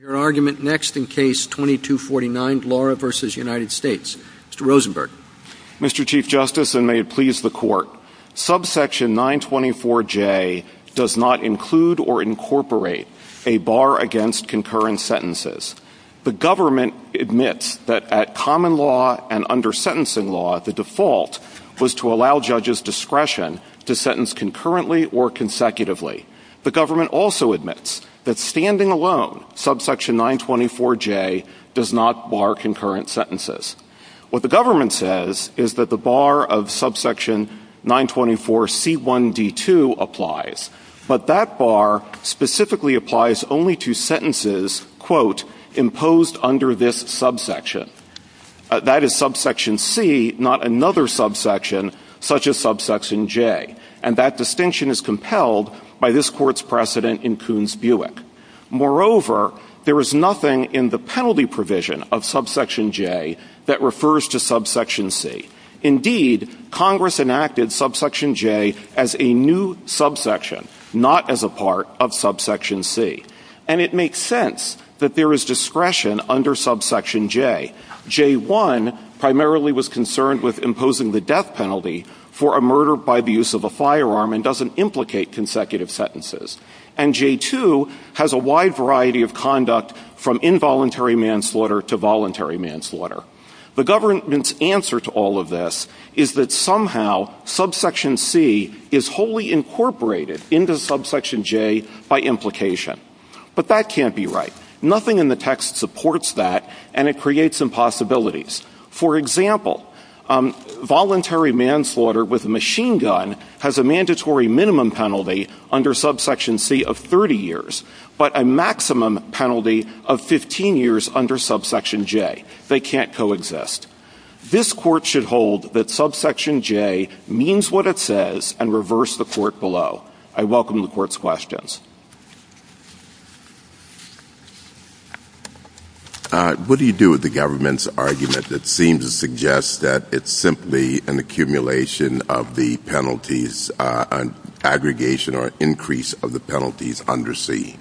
Your argument next in case 2249, Lora v. United States. Mr. Rosenberg. Mr. Chief Justice, and may it please the Court, subsection 924J does not include or incorporate a bar against concurrent sentences. The government admits that at common law and under sentencing law, the default was to allow judges' discretion to sentence concurrently or consecutively. The government also admits that standing alone, subsection 924J does not bar concurrent sentences. What the government says is that the bar of subsection 924C1D2 applies, but that bar specifically applies only to sentences, quote, imposed under this subsection. That is subsection C, not another subsection such as subsection J, and that distinction is compelled by this Court's precedent in Kuhn's Buick. Moreover, there is nothing in the penalty provision of subsection J that refers to subsection C. Indeed, Congress enacted subsection J as a new subsection, not as a part of subsection C. And it makes sense that there is discretion under subsection J. J1 primarily was concerned with imposing the death penalty for a murder by the use of a firearm and doesn't implicate consecutive sentences. And J2 has a wide variety of conduct from involuntary manslaughter to voluntary manslaughter. The government's answer to all of this is that somehow subsection C is wholly incorporated into subsection J by implication. But that can't be right. Nothing in the text supports that, and it creates some possibilities. For example, voluntary manslaughter with a machine gun has a mandatory minimum penalty under subsection C of 30 years, but a maximum penalty of 15 years under subsection J. They can't coexist. This Court should hold that subsection J means what it says and reverse the Court below. I welcome the Court's questions. What do you do with the government's argument that seems to suggest that it's simply an accumulation of the penalties, an aggregation or increase of the penalties under C?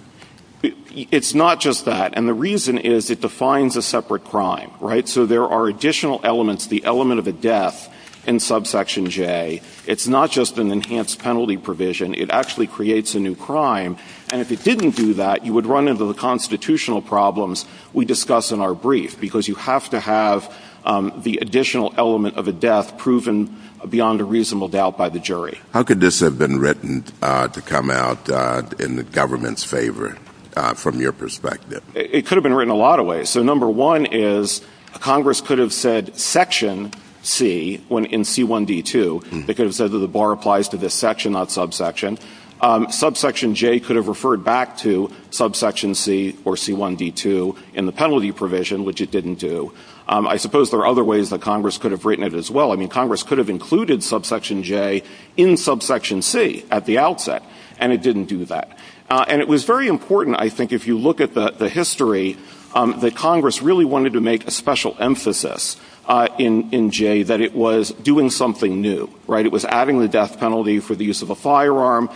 It's not just that. And the reason is it defines a separate crime, right? So there are additional elements, the element of a death in subsection J. It's not just an enhanced penalty provision. It actually creates a new crime. And if it didn't do that, you would run into the constitutional problems we discuss in our brief, because you have to have the additional element of a death proven beyond a reasonable doubt by the jury. How could this have been written to come out in the government's favor from your perspective? It could have been written a lot of ways. So number one is Congress could have said that section C in C1D2, they could have said that the bar applies to this section, not subsection. Subsection J could have referred back to subsection C or C1D2 in the penalty provision, which it didn't do. I suppose there are other ways that Congress could have written it as well. I mean, Congress could have included subsection J in subsection C at the outset, and it didn't do that. And it was very important, I think, if you look at the history, that Congress really wanted to make a special emphasis in J that it was doing something new, right? It was adding the death penalty for the use of a firearm.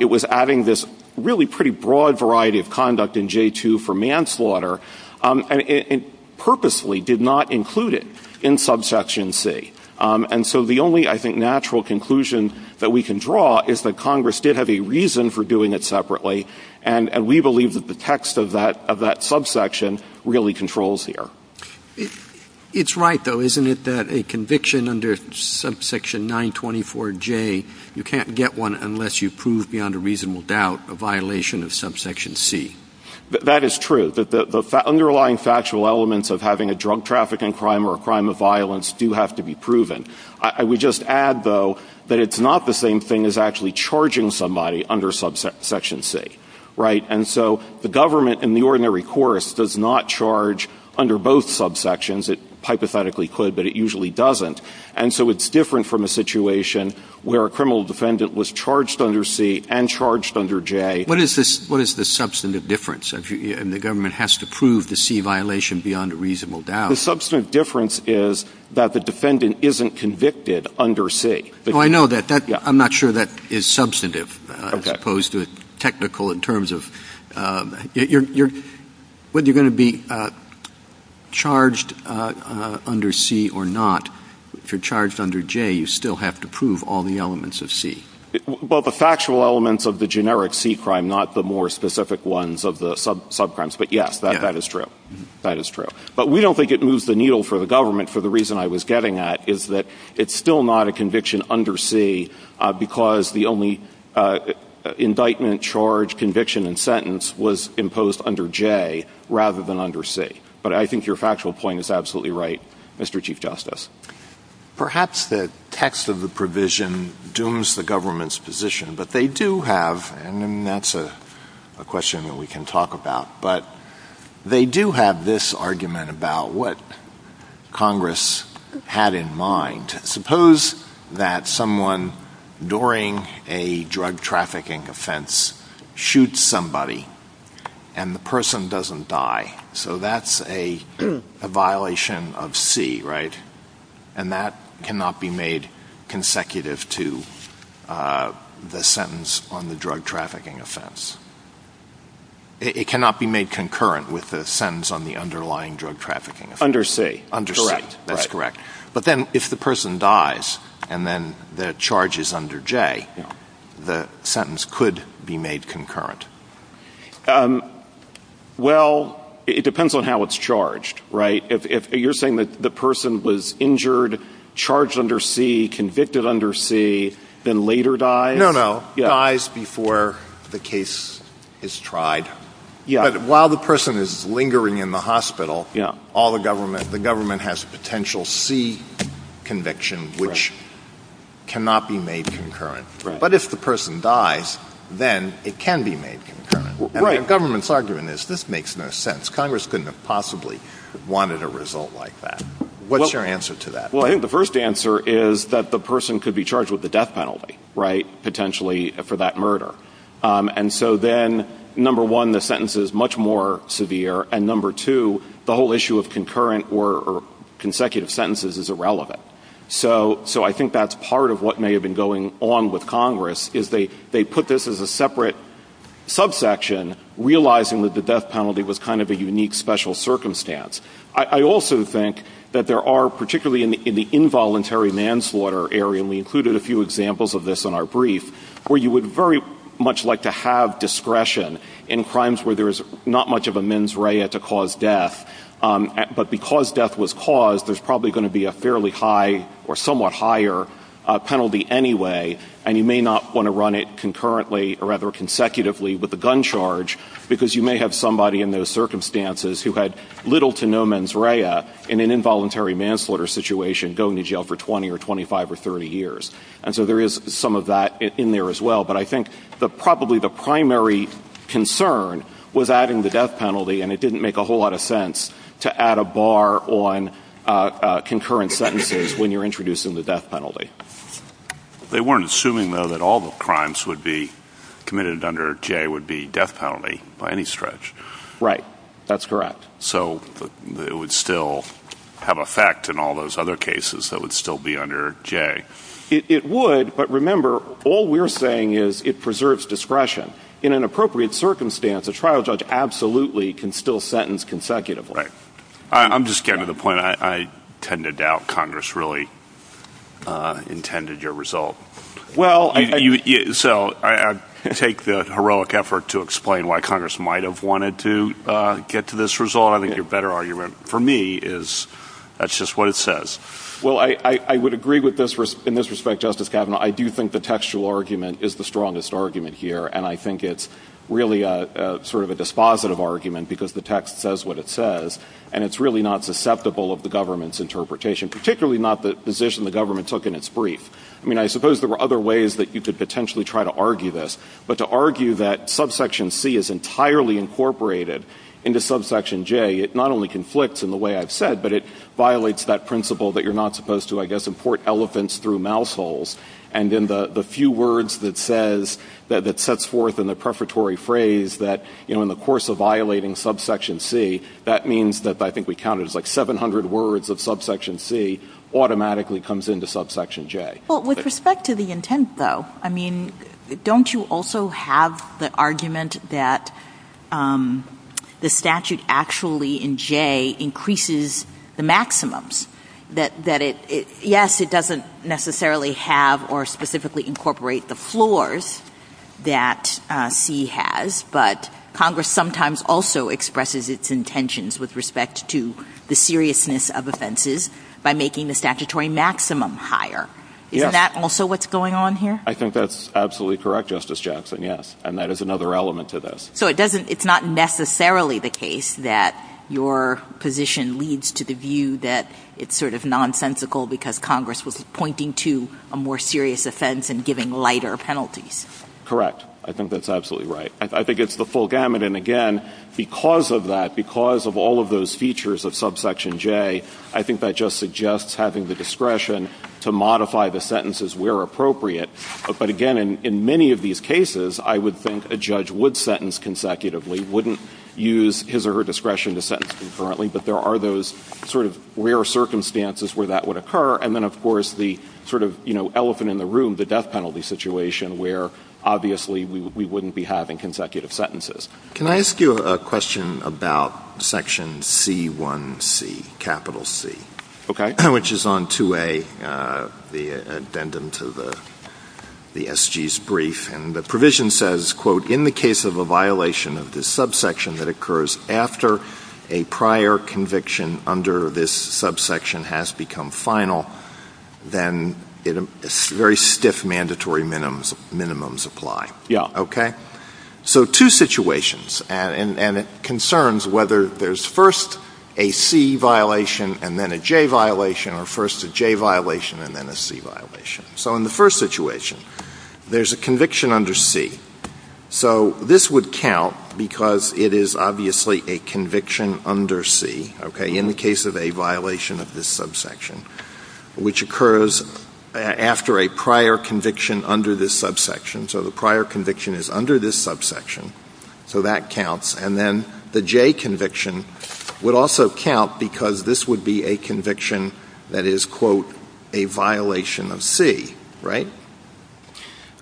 It was adding this really pretty broad variety of conduct in J2 for manslaughter. And it purposefully did not include it in subsection C. And so the only, I think, natural conclusion that we can draw is that Congress did have a reason for doing it separately, and we believe that the text of that subsection really controls here. It's right, though, isn't it, that a conviction under subsection 924J, you can't get one unless you prove beyond a reasonable doubt a violation of subsection C? That is true, that the underlying factual elements of having a drug trafficking crime or a crime of violence do have to be proven. I would just add, though, that it's not the same thing as actually charging somebody under subsection C, right? And so the government in the ordinary course does not charge under both subsections. It hypothetically could, but it usually doesn't. And so it's different from a situation where a criminal defendant was charged under C and charged under J. What is the substantive difference? And the government has to prove the C violation beyond a reasonable doubt. The substantive difference is that the defendant isn't convicted under C. Oh, I know that. I'm not sure that is substantive as opposed to technical in terms of whether you're going to be charged under C or not. If you're charged under J, you still have to prove all the elements of C. Well, the factual elements of the generic C crime, not the more specific ones of the subcrimes. But yes, that is true. That is true. But we don't think it moves the needle for the government for the reason I was getting at, is that it's still not a conviction under C because the only indictment, charge, conviction, and sentence was imposed under J rather than under C. But I think your factual point is absolutely right, Mr. Chief Justice. Perhaps the text of the provision dooms the government's position. But they do have, and that's a question that we can talk about, but they do have this argument about what Congress had in mind. Suppose that someone during a drug trafficking offense shoots somebody and the person doesn't die. So that's a violation of C, right? And that cannot be made consecutive to the sentence on the underlying drug trafficking offense. Under C. Under C. That's correct. But then if the person dies and then the charge is under J, the sentence could be made concurrent. Well, it depends on how it's charged, right? If you're saying that the person was injured, charged under C, convicted under C, then later dies? No, no. Dies before the case is tried. Yeah. But while the person is lingering in the hospital, all the government, the government has potential C conviction, which cannot be made concurrent. Right. But if the person dies, then it can be made concurrent. Right. And the government's argument is this makes no sense. Congress couldn't have possibly wanted a result like that. What's your answer to that? Well, I think the first answer is that the person could be charged with a death penalty that is much more severe. And number two, the whole issue of concurrent or consecutive sentences is irrelevant. So I think that's part of what may have been going on with Congress, is they put this as a separate subsection, realizing that the death penalty was kind of a unique special circumstance. I also think that there are, particularly in the involuntary manslaughter area, and we included a few examples of this in our brief, where you would very much like to have discretion in crimes where there's not much of a mens rea to cause death. But because death was caused, there's probably going to be a fairly high or somewhat higher penalty anyway, and you may not want to run it concurrently or rather consecutively with a gun charge, because you may have somebody in those circumstances who had little to no mens rea in an involuntary manslaughter situation going to jail for 20 or 25 or 30 years. And so there is some of that in there as well. But I think probably the primary concern was adding the death penalty, and it didn't make a whole lot of sense to add a bar on concurrent sentences when you're introducing the death penalty. They weren't assuming, though, that all the crimes would be committed under J would be death penalty by any stretch. Right. That's correct. So it would still have effect in all those other cases that would still be committed under J. It would, but remember, all we're saying is it preserves discretion. In an appropriate circumstance, a trial judge absolutely can still sentence consecutively. Right. I'm just getting to the point. I tend to doubt Congress really intended your result. Well, I So I take the heroic effort to explain why Congress might have wanted to get to this result. I think your better argument for me is that's just what it says. Well, I would agree with this. In this respect, Justice Kavanaugh, I do think the textual argument is the strongest argument here, and I think it's really sort of a dispositive argument because the text says what it says, and it's really not susceptible of the government's interpretation, particularly not the position the government took in its brief. I mean, I suppose there were other ways that you could potentially try to argue this, but to argue that subsection C is entirely incorporated into subsection J, it not only conflicts in the way I've said, but it violates that principle that you're not supposed to, I guess, import elephants through mouse holes. And in the few words that says, that sets forth in the prefatory phrase that, you know, in the course of violating subsection C, that means that I think we counted as like 700 words of subsection C automatically comes into subsection J. Well, with respect to the intent, though, I mean, don't you also have the argument that the statute actually in J increases the maximums, that it – yes, it doesn't necessarily have or specifically incorporate the floors that C has, but Congress sometimes also expresses its intentions with respect to the seriousness of offenses by making the statutory maximum higher. Yes. Isn't that also what's going on here? I think that's absolutely correct, Justice Jackson, yes. And that is another element to this. So it doesn't – it's not necessarily the case that your position leads to the view that it's sort of nonsensical because Congress was pointing to a more serious offense and giving lighter penalties. Correct. I think that's absolutely right. I think it's the full gamut. And, again, because of that, because of all of those features of subsection J, I think that just suggests having the discretion to modify the sentences where appropriate. But, again, in many of these cases, I would think a judge would sentence consecutively, wouldn't use his or her discretion to sentence concurrently, but there are those sort of rare circumstances where that would occur. And then, of course, the sort of elephant in the room, the death penalty situation where obviously we wouldn't be having consecutive sentences. Can I ask you a question about section C1C, capital C? Okay. Which is on 2A, the addendum to the SG's brief, and the provision says, quote, in the case of a violation of this subsection that occurs after a prior conviction under this subsection has become final, then very stiff mandatory minimums apply. Yeah. Okay? So two situations, and it concerns whether there's first a C violation and then a J violation, or first a J violation and then a C violation. So in the first situation, there's a conviction under C. So this would count because it is obviously a conviction under C, okay, in the case of a violation of this subsection, which occurs after a prior conviction under this subsection. So the prior conviction is under this subsection. So that counts. And then the J conviction would also count because this would be a conviction that is, quote, a violation of C, right?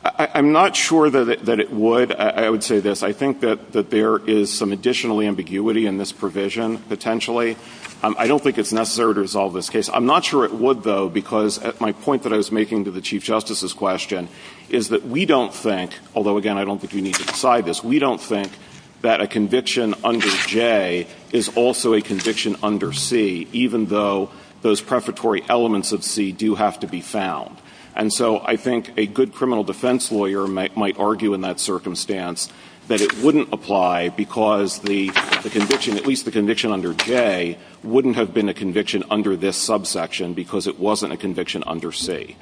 I'm not sure that it would. I would say this. I think that there is some additional ambiguity in this provision potentially. I don't think it's necessary to resolve this case. I'm not sure it would, though, because my point that I was making to the Chief Justice's question is that we don't think, although, again, I don't think we need to decide this, we don't think that a conviction under J is also a conviction under C, even though those prefatory elements of C do have to be found. And so I think a good criminal defense lawyer might argue in that circumstance that it wouldn't apply because the conviction, at least the conviction under J, wouldn't have been a conviction under this subsection because it wasn't a conviction under C.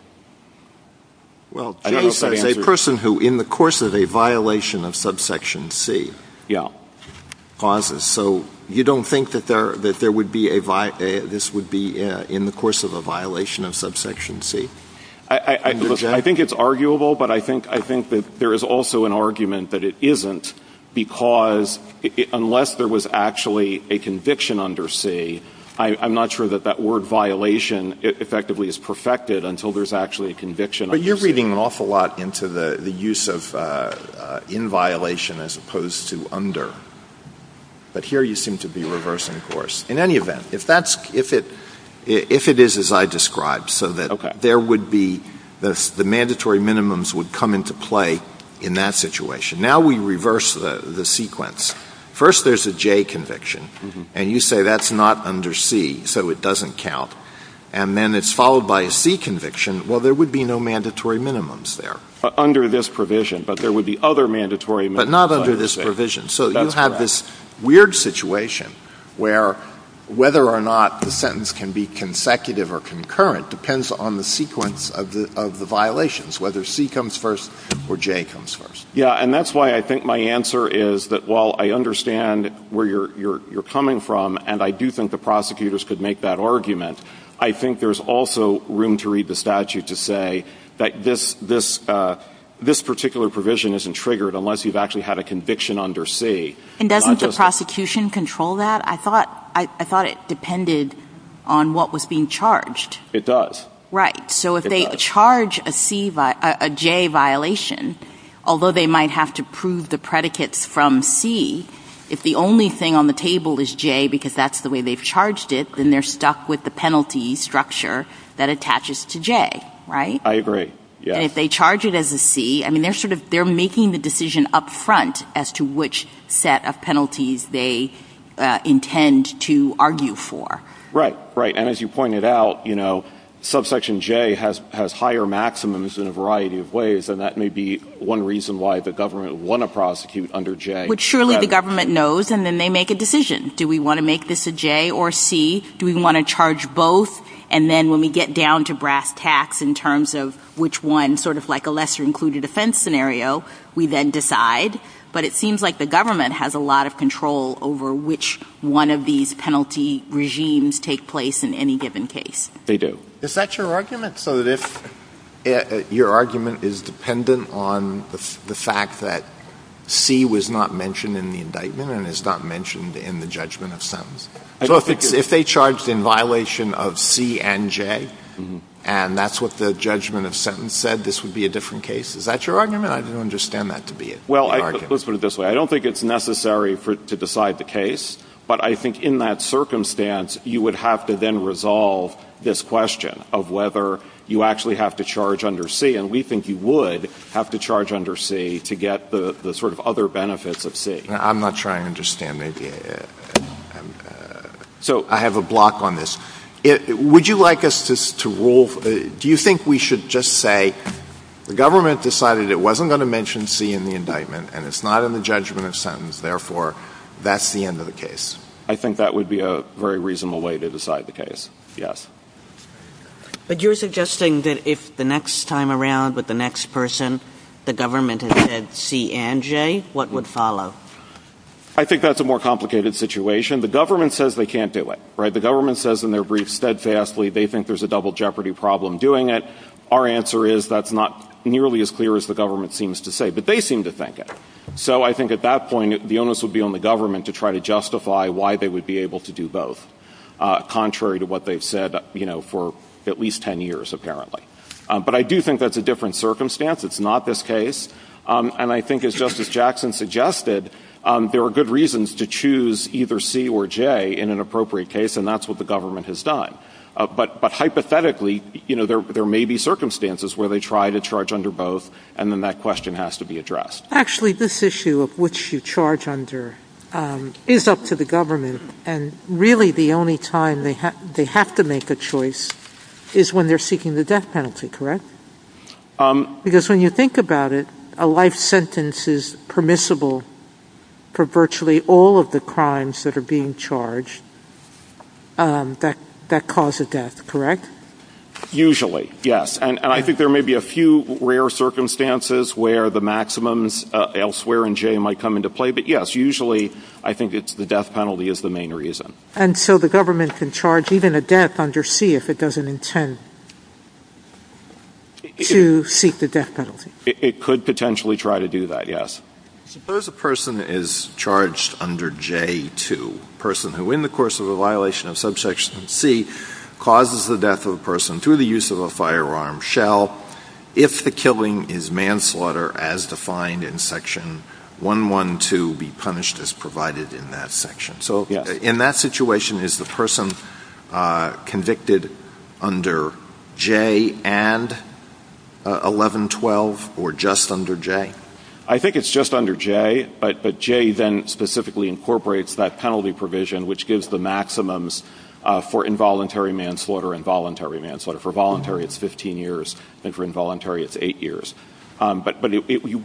Well, J says a person who, in the course of a violation of subsection C. Yeah. Causes. So you don't think that this would be in the course of a violation of subsection C? I think it's arguable, but I think that there is also an argument that it isn't because, unless there was actually a conviction under C, I'm not sure that that was actually a conviction under C. But you're reading an awful lot into the use of in violation as opposed to under. But here you seem to be reversing course. In any event, if that's — if it — if it is as I described, so that there would be — the mandatory minimums would come into play in that situation. Now we reverse the sequence. First, there's a J conviction. And you say that's not under C, so it doesn't count. And then it's followed by a C conviction. Well, there would be no mandatory minimums there. Under this provision. But there would be other mandatory minimums. But not under this provision. That's correct. So you have this weird situation where whether or not the sentence can be consecutive or concurrent depends on the sequence of the violations, whether C comes first or J comes first. Yeah. And that's why I think my answer is that while I understand where you're coming from, and I do think the prosecutors could make that argument, I think there's also room to read the statute to say that this — this particular provision isn't triggered unless you've actually had a conviction under C. And doesn't the prosecution control that? I thought — I thought it depended on what was being charged. It does. Right. So if they charge a C — a J violation, although they might have to prove the predicates from C, if the only thing on the table is J because that's the way they've charged it, then they're stuck with the penalty structure that attaches to J. Right? I agree. Yes. And if they charge it as a C, I mean, they're sort of — they're making the decision up front as to which set of penalties they intend to argue for. Right. Right. And as you pointed out, you know, subsection J has higher maximums in a variety of ways, and that may be one reason why the government would want to prosecute under J. But surely the government knows, and then they make a decision. Do we want to make this a J or a C? Do we want to charge both? And then when we get down to brass tacks in terms of which one, sort of like a lesser included offense scenario, we then decide. But it seems like the government has a lot of control over which one of these penalty regimes take place in any given case. They do. Is that your argument? So that if your argument is dependent on the fact that C was not mentioned in the indictment and is not mentioned in the judgment of sentence? So if they charged in violation of C and J, and that's what the judgment of sentence said, this would be a different case? Is that your argument? I don't understand that to be an argument. Well, let's put it this way. I don't think it's necessary to decide the case, but I think in that circumstance, you would have to then resolve this question of whether you actually have to charge under C, and we think you would have to charge under C to get the sort of other benefits of C. I'm not sure I understand. So I have a block on this. Would you like us to rule? Do you think we should just say the government decided it wasn't going to mention C in the indictment and it's not in the judgment of sentence, therefore that's the end of the case? I think that would be a very reasonable way to decide the case, yes. But you're suggesting that if the next time around with the next person, the government had said C and J, what would follow? I think that's a more complicated situation. The government says they can't do it, right? The government says in their brief steadfastly they think there's a double jeopardy problem doing it. Our answer is that's not nearly as clear as the government seems to say, but they seem to think it. So I think at that point the onus would be on the government to try to justify why they would be able to do both, contrary to what they've said, you know, for at least 10 years apparently. But I do think that's a different circumstance. It's not this case. And I think as Justice Jackson suggested, there are good reasons to choose either C or J in an appropriate case, and that's what the government has done. But hypothetically, you know, there may be circumstances where they try to charge under both, and then that question has to be addressed. Actually, this issue of which you charge under is up to the government. And really the only time they have to make a choice is when they're seeking the death penalty, correct? Because when you think about it, a life sentence is permissible for virtually all of the crimes that are being charged that cause a death, correct? Usually, yes. And I think there may be a few rare circumstances where the maximums elsewhere in J might come into play. But, yes, usually I think it's the death penalty is the main reason. And so the government can charge even a death under C if it doesn't intend to seek the death penalty? It could potentially try to do that, yes. Suppose a person is charged under J too, a person who in the course of a violation of subsection C causes the death of a person through the use of a firearm shell if the killing is manslaughter as defined in section 112 be punished as provided in that section. So in that situation, is the person convicted under J and 1112 or just under J? I think it's just under J. But J then specifically incorporates that penalty provision which gives the maximums for involuntary manslaughter and voluntary manslaughter. For voluntary, it's 15 years. And for involuntary, it's 8 years. But you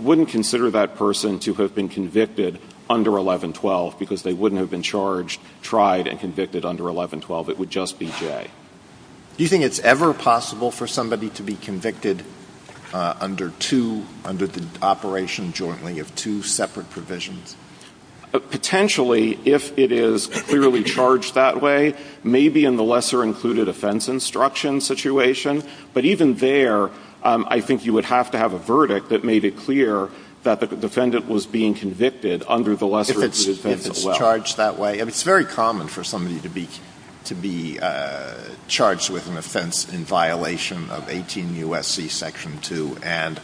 wouldn't consider that person to have been convicted under 1112 because they wouldn't have been charged, tried, and convicted under 1112. It would just be J. Do you think it's ever possible for somebody to be convicted under two, under the operation jointly of two separate provisions? Potentially, if it is clearly charged that way. Maybe in the lesser included offense instruction situation. But even there, I think you would have to have a verdict that made it clear that the defendant was being convicted under the lesser included offense as well. If it's charged that way. It's very common for somebody to be charged with an offense in violation of 18 U.S.C. Section 2 and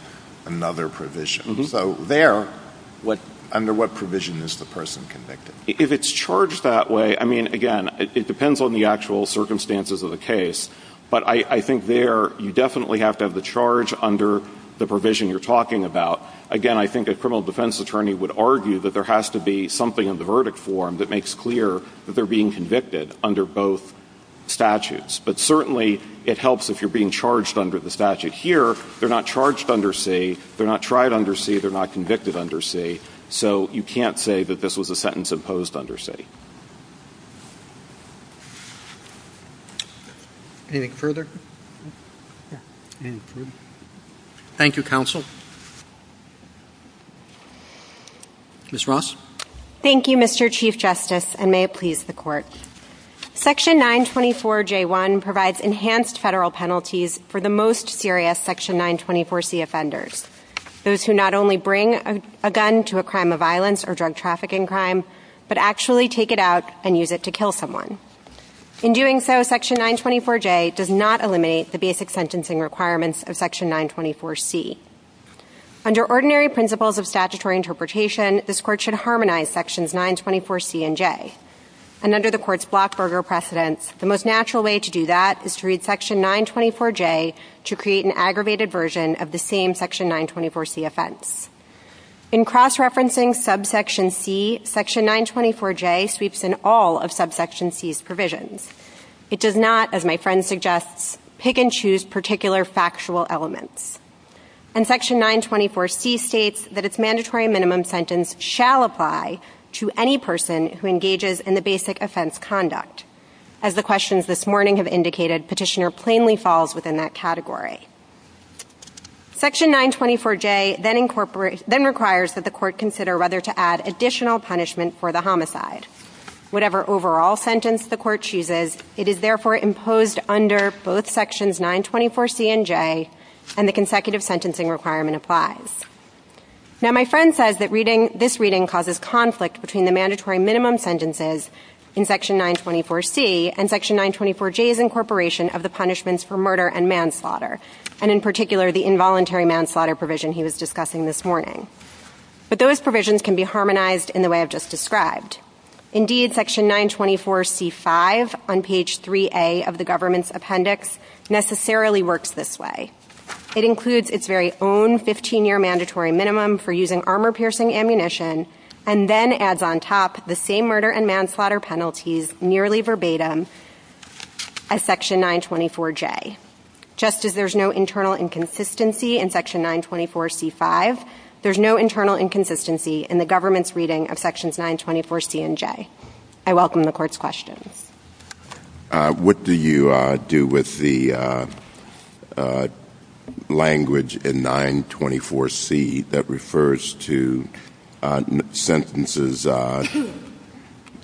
another provision. So there, under what provision is the person convicted? If it's charged that way, I mean, again, it depends on the actual circumstances of the case. But I think there, you definitely have to have the charge under the provision you're talking about. Again, I think a criminal defense attorney would argue that there has to be something in the verdict form that makes clear that they're being convicted under both statutes. But certainly, it helps if you're being charged under the statute here. They're not charged under C. They're not tried under C. They're not convicted under C. So you can't say that this was a sentence imposed under C. Anything further? Thank you, counsel. Ms. Ross. Thank you, Mr. Chief Justice, and may it please the Court. Section 924J1 provides enhanced federal penalties for the most serious Section 924C offenders, those who not only bring a gun to a crime of violence or drug trafficking crime, but actually take it out and use it to kill someone. In doing so, Section 924J does not eliminate the basic sentencing requirements of Section 924C. Under ordinary principles of statutory interpretation, this Court should harmonize Sections 924C and J. And under the Court's Blockberger precedents, the most natural way to do that is to read Section 924J to create an aggravated version of the same Section 924C offense. In cross-referencing Subsection C, Section 924J sweeps in all of Subsection C's provisions. It does not, as my friend suggests, pick and choose particular factual elements. And Section 924C states that its mandatory minimum sentence shall apply to any person who engages in the basic offense conduct. As the questions this morning have indicated, Petitioner plainly falls within that category. Section 924J then requires that the Court consider whether to add additional punishment for the homicide. Whatever overall sentence the Court chooses, it is therefore imposed under both Sections 924C and J, and the consecutive sentencing requirement applies. Now my friend says that this reading causes conflict between the mandatory minimum sentences in Section 924C and Section 924J's incorporation of the punishments for murder and manslaughter, and in particular the involuntary manslaughter provision he was discussing this morning. But those provisions can be harmonized in the way I've just described. Indeed, Section 924C-5 on page 3A of the government's appendix necessarily works this way. It includes its very own 15-year mandatory minimum for using armor-piercing ammunition, and then adds on top the same murder and manslaughter penalties nearly verbatim as Section 924J. Just as there's no internal inconsistency in Section 924C-5, there's no internal inconsistency in the government's reading of Sections 924C and J. I welcome the Court's questions. What do you do with the language in 924C that refers to sentences,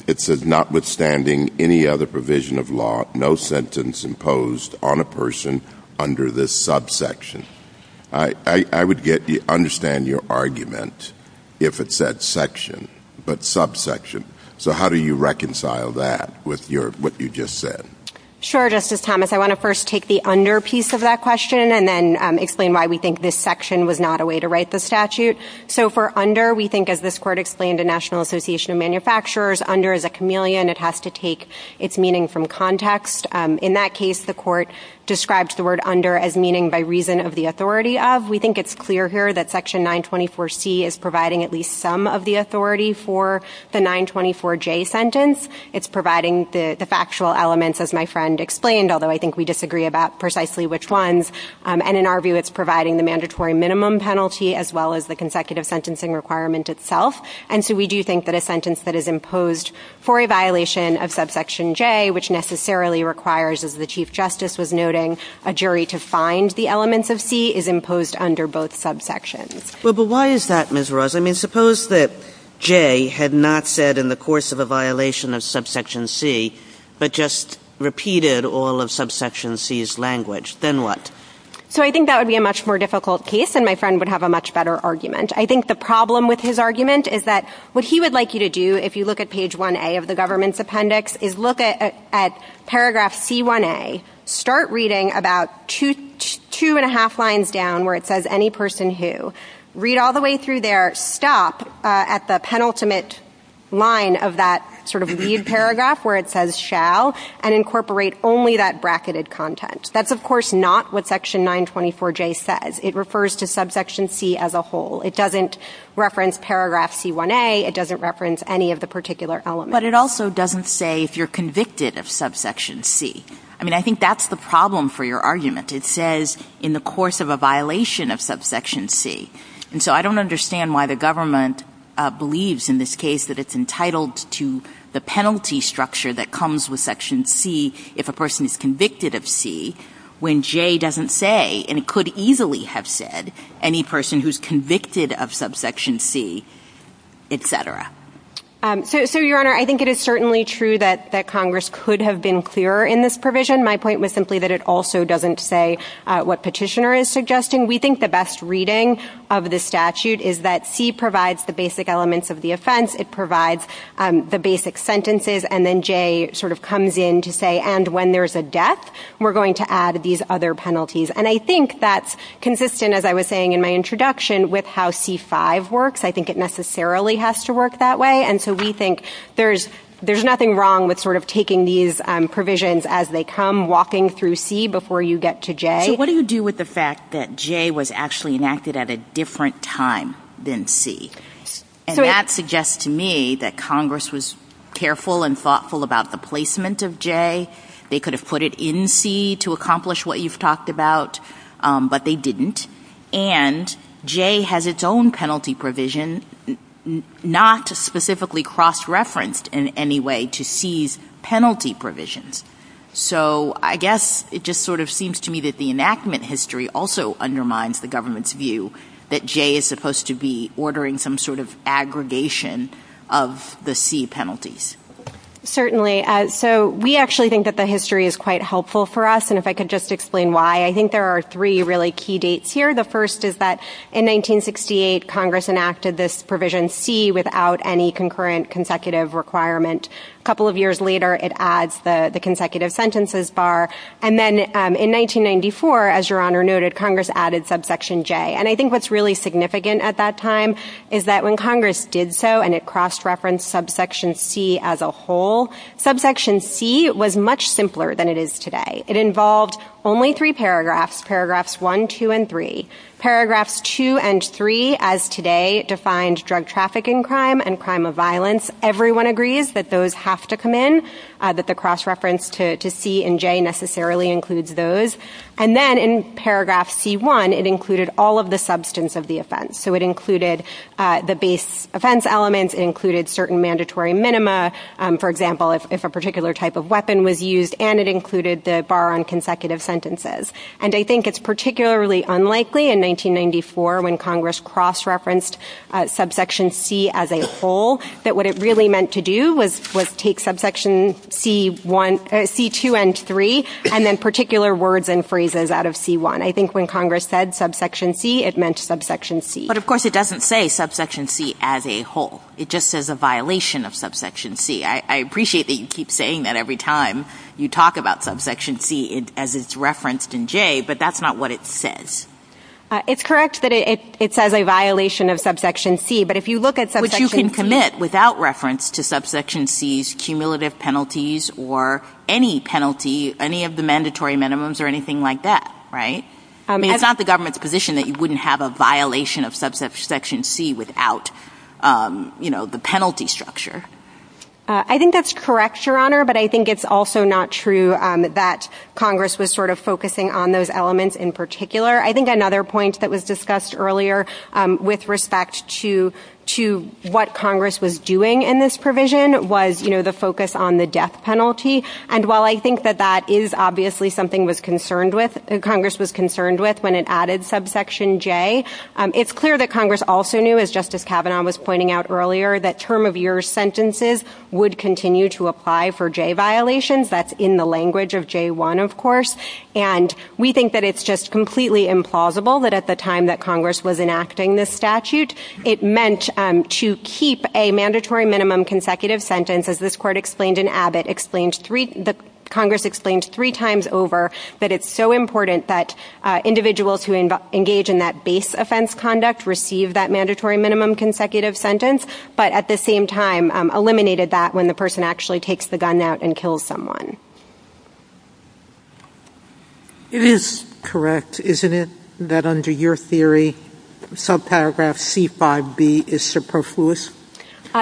it says, notwithstanding any other provision of law, no sentence imposed on a person under this subsection? I would understand your argument if it said section, but subsection. So how do you reconcile that with what you just said? Sure, Justice Thomas. I want to first take the under piece of that question and then explain why we think this section was not a way to write the statute. So for under, we think, as this Court explained to the National Association of Manufacturers, under is a chameleon. It has to take its meaning from context. In that case, the Court described the word under as meaning by reason of the authority of. We think it's clear here that Section 924C is providing at least some of the authority for the 924J sentence. It's providing the factual elements, as my friend explained, although I think we disagree about precisely which ones. And in our view, it's providing the mandatory minimum penalty as well as the consecutive sentencing requirement itself. And so we do think that a sentence that is imposed for a violation of subsection J, which necessarily requires, as the Chief Justice was noting, a jury to find the elements of C, is imposed under both subsections. Well, but why is that, Ms. Ross? I mean, suppose that J had not said in the course of a violation of subsection C but just repeated all of subsection C's language. Then what? So I think that would be a much more difficult case and my friend would have a much better argument. I think the problem with his argument is that what he would like you to do, if you look at page 1A of the government's appendix, is look at paragraph C1A, start reading about two and a half lines down where it says any person who, read all the way through there, stop at the penultimate line of that sort of lead paragraph where it says shall, and incorporate only that bracketed content. That's, of course, not what section 924J says. It refers to subsection C as a whole. It doesn't reference paragraph C1A. It doesn't reference any of the particular elements. But it also doesn't say if you're convicted of subsection C. I mean, I think that's the problem for your argument. It says in the course of a violation of subsection C. And so I don't understand why the government believes in this case that it's entitled to the penalty structure that comes with section C if a person is convicted of C when J doesn't say, and it could easily have said, any person who's convicted of subsection C, etc. So, Your Honor, I think it is certainly true that Congress could have been clearer in this provision. My point was simply that it also doesn't say what petitioner is suggesting. We think the best reading of the statute is that C provides the basic elements of the offense. It provides the basic sentences. And then J sort of comes in to say, and when there's a death, we're going to add these other penalties. And I think that's consistent, as I was saying in my introduction, with how C5 works. I think it necessarily has to work that way. And so we think there's nothing wrong with sort of taking these provisions as they come, walking through C before you get to J. So what do you do with the fact that J was actually enacted at a different time than C? And that suggests to me that Congress was careful and thoughtful about the placement of J. They could have put it in C to accomplish what you've talked about, but they didn't. And J has its own penalty provision, not specifically cross-referenced in any way to C's penalty provisions. So I guess it just sort of seems to me that the enactment history also undermines the government's view that J is supposed to be ordering some sort of aggregation of the C penalties. Certainly. So we actually think that the history is quite helpful for us, and if I could just explain why, I think there are three really key dates here. The first is that in 1968, Congress enacted this provision C without any concurrent consecutive requirement. A couple of years later, it adds the consecutive sentences bar. And then in 1994, as Your Honor noted, Congress added subsection J. And I think what's really significant at that time is that when Congress did so and it cross-referenced subsection C as a whole, subsection C was much simpler than it is today. It involved only three paragraphs, paragraphs 1, 2, and 3. Paragraphs 2 and 3, as today, defined drug traffic and crime and crime of violence. Everyone agrees that those have to come in, that the cross-reference to C and J necessarily includes those. And then in paragraph C1, it included all of the substance of the offense. So it included the base offense elements, it included certain mandatory minima, for example, if a particular type of weapon was used, and it included the bar on consecutive sentences. And I think it's particularly unlikely in 1994 when Congress cross-referenced subsection C as a whole that what it really meant to do was take subsection C2 and 3 and then particular words and phrases out of C1. I think when Congress said subsection C, it meant subsection C. But of course it doesn't say subsection C as a whole. It just says a violation of subsection C. I appreciate that you keep saying that every time you talk about subsection C as it's referenced in J, but that's not what it says. It's correct that it says a violation of subsection C, but if you look at subsection C... Which you can commit without reference to subsection C's cumulative penalties or any penalty, any of the mandatory minimums or anything like that, right? I mean, it's not the government's position that you wouldn't have a violation of subsection C without, you know, the penalty structure. I think that's correct, Your Honor, but I think it's also not true that Congress was sort of focusing on those elements in particular. I think another point that was discussed earlier with respect to what Congress was doing in this provision was, you know, the focus on the death penalty. And while I think that that is obviously something Congress was concerned with when it added subsection J, it's clear that Congress also knew, as Justice Kavanaugh was pointing out earlier, that term-of-year sentences would continue to apply for J violations. That's in the language of J1, of course. And we think that it's just completely implausible that at the time that Congress was enacting this statute, it meant to keep a mandatory minimum consecutive sentence. As this Court explained in Abbott, Congress explained three times over that it's so important that individuals who engage in that base offense conduct receive that mandatory minimum consecutive sentence, but at the same time eliminated that when the person actually takes the gun out and kills someone. It is correct, isn't it, that under your theory subparagraph C5b is superfluous?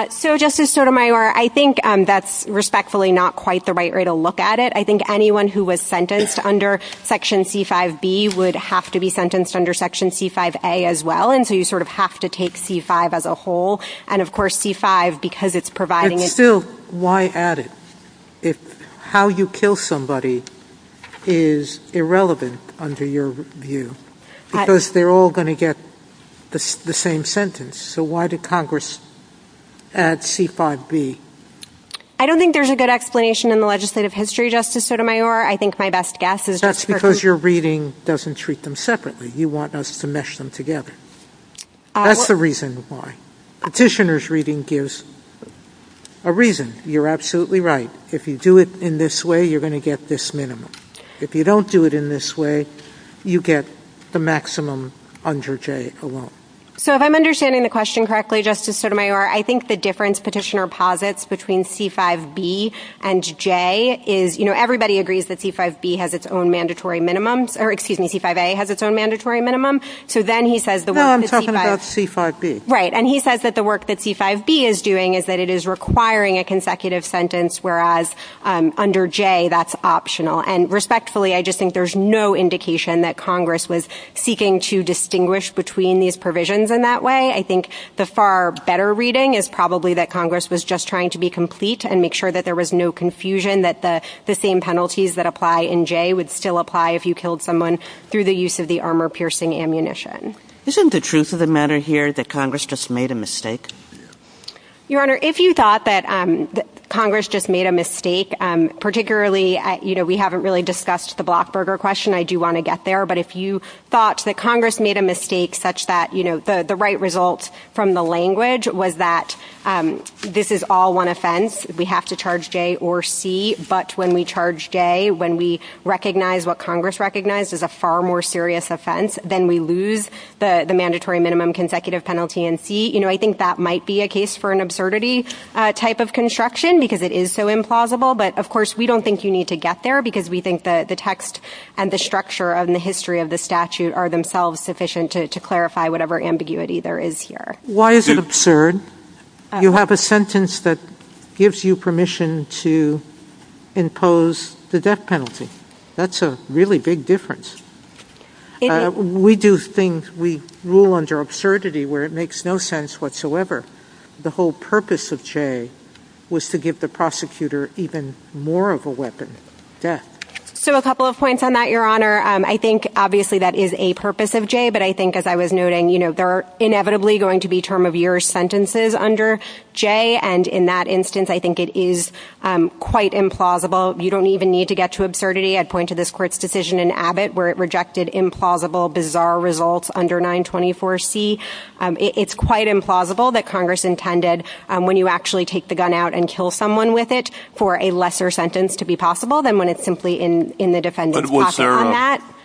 So, Justice Sotomayor, I think that's respectfully not quite the right way to look at it. I think anyone who was sentenced under Section C5b would have to be sentenced under Section C5a as well, and so you sort of have to take C5 as a whole, and of course C5 because it's providing... But still, why add it? How you kill somebody is irrelevant under your view because they're all going to get the same sentence, so why did Congress add C5b? I don't think there's a good explanation in the legislative history, Justice Sotomayor. I think my best guess is... That's because your reading doesn't treat them separately. You want us to mesh them together. That's the reason why. Petitioner's reading gives a reason. You're absolutely right. If you do it in this way, you're going to get this minimum. If you don't do it in this way, you get the maximum under J alone. So if I'm understanding the question correctly, Justice Sotomayor, I think the difference Petitioner posits between C5b and J is, you know, everybody agrees that C5b has its own mandatory minimum, or excuse me, C5a has its own mandatory minimum, so then he says the work that C5... No, I'm talking about C5b. Right, and he says that the work that C5b is doing is that it is requiring a consecutive sentence, whereas under J that's optional. And respectfully, I just think there's no indication that Congress was seeking to distinguish between these provisions in that way. I think the far better reading is probably that Congress was just trying to be complete and make sure that there was no confusion, that the same penalties that apply in J would still apply if you killed someone through the use of the armor-piercing ammunition. Isn't the truth of the matter here that Congress just made a mistake? Your Honor, if you thought that Congress just made a mistake, particularly, you know, we haven't really discussed the Blockburger question, I do want to get there, but if you thought that Congress made a mistake such that, you know, the right result from the language was that this is all one offense, we have to charge J or C, but when we charge J, when we recognize what Congress recognized is a far more serious offense than we lose the mandatory minimum consecutive penalty in C, you know, I think that might be a case for an absurdity type of construction because it is so implausible, but, of course, we don't think you need to get there because we think that the text and the structure and the history of the statute are themselves sufficient to clarify whatever ambiguity there is here. Why is it absurd? You have a sentence that gives you permission to impose the death penalty. That's a really big difference. We do things, we rule under absurdity where it makes no sense whatsoever. The whole purpose of J was to give the prosecutor even more of a weapon, death. So a couple of points on that, Your Honor. I think, obviously, that is a purpose of J, but I think, as I was noting, you know, there are inevitably going to be term-of-year sentences under J, and in that instance, I think it is quite implausible. You don't even need to get to absurdity. I'd point to this Court's decision in Abbott where it rejected implausible, bizarre results under 924C. It's quite implausible that Congress intended when you actually take the gun out and kill someone with it for a lesser sentence to be possible than when it's simply in the defendant's pocket on that. But was there a...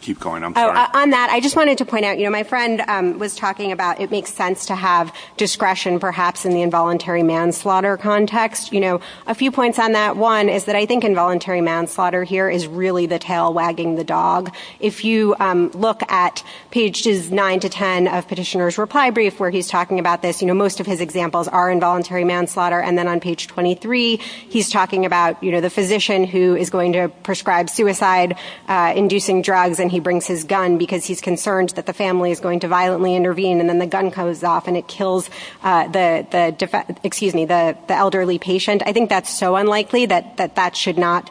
Keep going, I'm sorry. On that, I just wanted to point out, you know, my friend was talking about it makes sense to have discretion, perhaps, in the involuntary manslaughter context. You know, a few points on that. One is that I think involuntary manslaughter here is really the tail wagging the dog. If you look at pages 9 to 10 of Petitioner's reply brief where he's talking about this, you know, most of his examples are involuntary manslaughter. And then on page 23, he's talking about, you know, the physician who is going to prescribe suicide-inducing drugs and he brings his gun because he's concerned that the family is going to violently intervene and then the gun comes off and it kills the elderly patient. I think that's so unlikely that that should not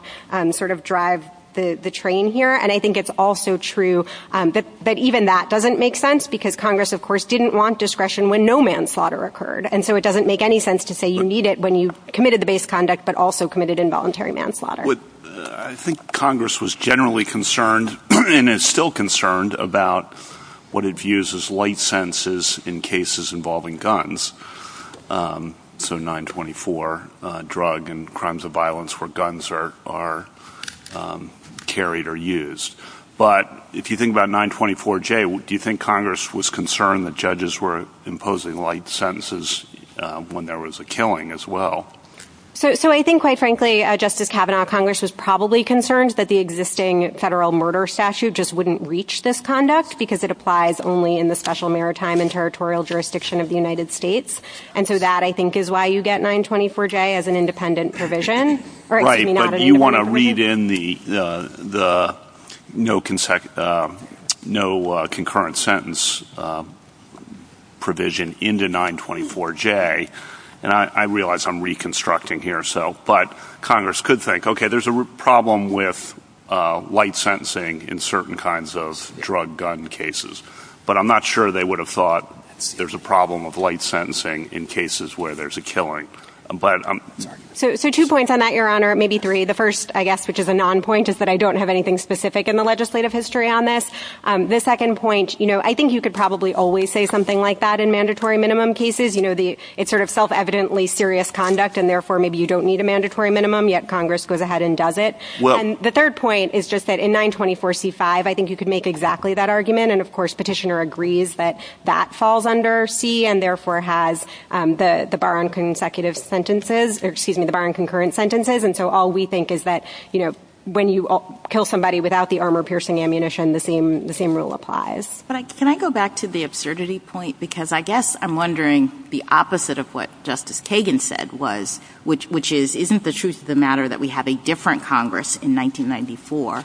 sort of drive the train here. And I think it's also true that even that doesn't make sense because Congress, of course, didn't want discretion when no manslaughter occurred. And so it doesn't make any sense to say you need it when you've committed the base conduct but also committed involuntary manslaughter. I think Congress was generally concerned and is still concerned about what it views as light sentences in cases involving guns. So 924, drug and crimes of violence where guns are carried or used. But if you think about 924-J, do you think Congress was concerned that judges were imposing light sentences when there was a killing as well? So I think, quite frankly, Justice Kavanaugh, Congress was probably concerned that the existing federal murder statute just wouldn't reach this conduct because it applies only in the special maritime and territorial jurisdiction of the United States. And so that, I think, is why you get 924-J as an independent provision. Right, but you want to read in the no concurrent sentence provision into 924-J. And I realize I'm reconstructing here, but Congress could think, okay, there's a problem with light sentencing in certain kinds of drug-gun cases. But I'm not sure they would have thought there's a problem of light sentencing in cases where there's a killing. So two points on that, Your Honor, maybe three. The first, I guess, which is a non-point, is that I don't have anything specific in the legislative history on this. The second point, I think you could probably always say something like that in mandatory minimum cases. It's sort of self-evidently serious conduct, and therefore maybe you don't need a mandatory minimum, yet Congress goes ahead and does it. And the third point is just that in 924-C-5, I think you could make exactly that argument. And of course, Petitioner agrees that that falls under C and therefore has the bar on consecutive sentences, or excuse me, the bar on concurrent sentences. And so all we think is that when you kill somebody without the armor-piercing ammunition, the same rule applies. But can I go back to the absurdity point? Because I guess I'm wondering the opposite of what Justice Kagan said was, which is, isn't the truth of the matter that we have a different Congress in 1994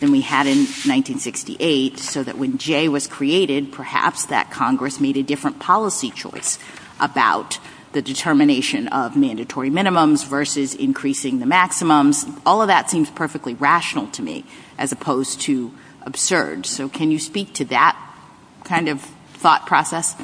than we had in 1968, so that when J was created, perhaps that Congress made a different policy choice about the determination of mandatory minimums versus increasing the maximums? All of that seems perfectly rational to me as opposed to absurd. So can you speak to that kind of thought process?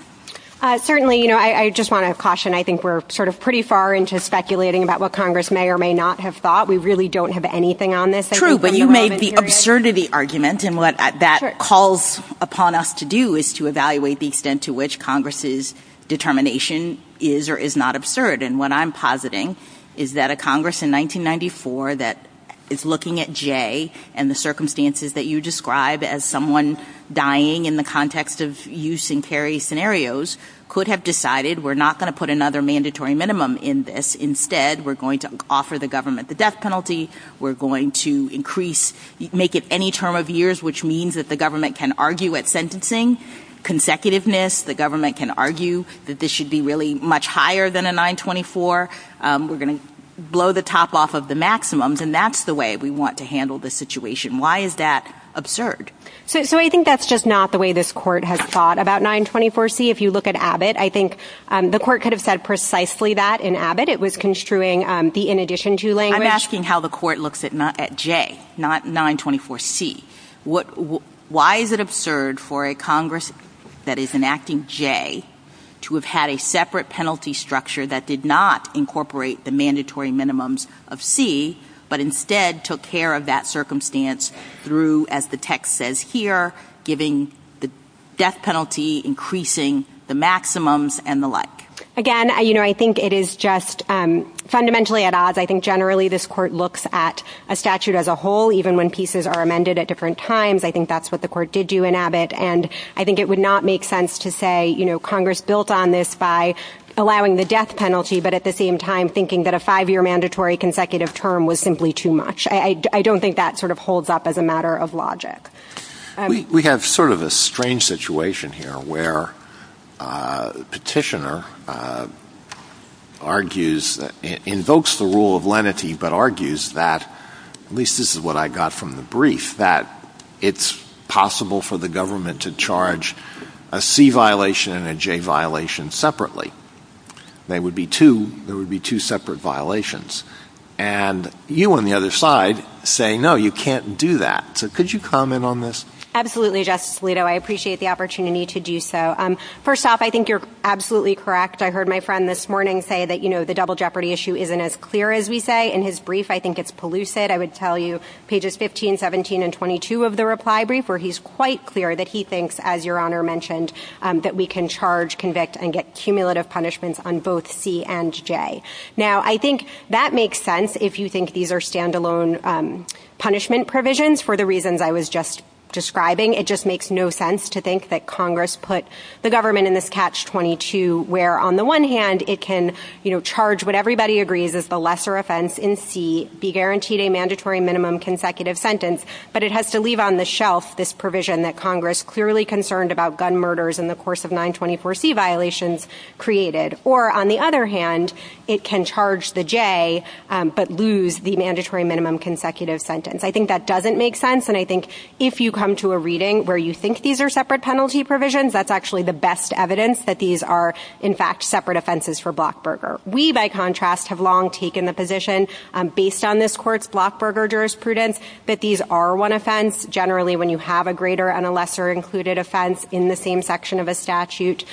Certainly. I just want to caution. I think we're sort of pretty far into speculating about what Congress may or may not have thought. We really don't have anything on this. True, but you made the absurdity argument, and what that calls upon us to do is to evaluate the extent to which Congress's determination is or is not absurd. And what I'm positing is that a Congress in 1994 that is looking at J and the circumstances that you describe as someone dying in the context of use-and-carry scenarios could have decided, we're not going to put another mandatory minimum in this. Instead, we're going to offer the government the death penalty. We're going to increase, make it any term of years, which means that the government can argue at sentencing. Consecutiveness, the government can argue that this should be really much higher than a 924. We're going to blow the top off of the maximums, and that's the way we want to handle this situation. Why is that absurd? So I think that's just not the way this Court has thought about 924C. If you look at Abbott, I think the Court could have said precisely that in Abbott. It was construing the in addition to language. I'm asking how the Court looks at J, not 924C. Why is it absurd for a Congress that is enacting J to have had a separate penalty structure that did not incorporate the mandatory minimums of C, but instead took care of that circumstance through, as the text says here, giving the death penalty, increasing the maximums, and the like? Again, I think it is just fundamentally at odds. I think generally this Court looks at a statute as a whole, even when pieces are amended at different times. I think that's what the Court did do in Abbott, and I think it would not make sense to say, you know, Congress built on this by allowing the death penalty, but at the same time thinking that a five-year mandatory consecutive term was simply too much. I don't think that sort of holds up as a matter of logic. We have sort of a strange situation here where the petitioner argues, invokes the rule of lenity, but argues that, at least this is what I got from the brief, that it's possible for the government to charge a C violation and a J violation separately. There would be two separate violations. And you on the other side say, no, you can't do that. So could you comment on this? Absolutely, Justice Alito. I appreciate the opportunity to do so. First off, I think you're absolutely correct. I heard my friend this morning say that, you know, the double jeopardy issue isn't as clear as we say. In his brief, I think it's pellucid. I would tell you pages 15, 17, and 22 of the reply brief where he's quite clear that he thinks, as Your Honor mentioned, that we can charge, convict, and get cumulative punishments on both C and J. Now, I think that makes sense if you think these are stand-alone punishment provisions for the reasons I was just describing. It just makes no sense to think that Congress put the government in this catch-22 where, on the one hand, it can, you know, charge what everybody agrees is the lesser offense in C, be guaranteed a mandatory minimum consecutive sentence, but it has to leave on the shelf this provision that Congress clearly concerned about gun murders in the course of 924C violations created. Or, on the other hand, it can charge the J but lose the mandatory minimum consecutive sentence. I think that doesn't make sense, and I think if you come to a reading where you think these are separate penalty provisions, that's actually the best evidence that these are, in fact, separate offenses for Blockberger. We, by contrast, have long taken the position, based on this Court's Blockberger jurisprudence, that these are one offense. Generally, when you have a greater and a lesser included offense in the same section of a statute,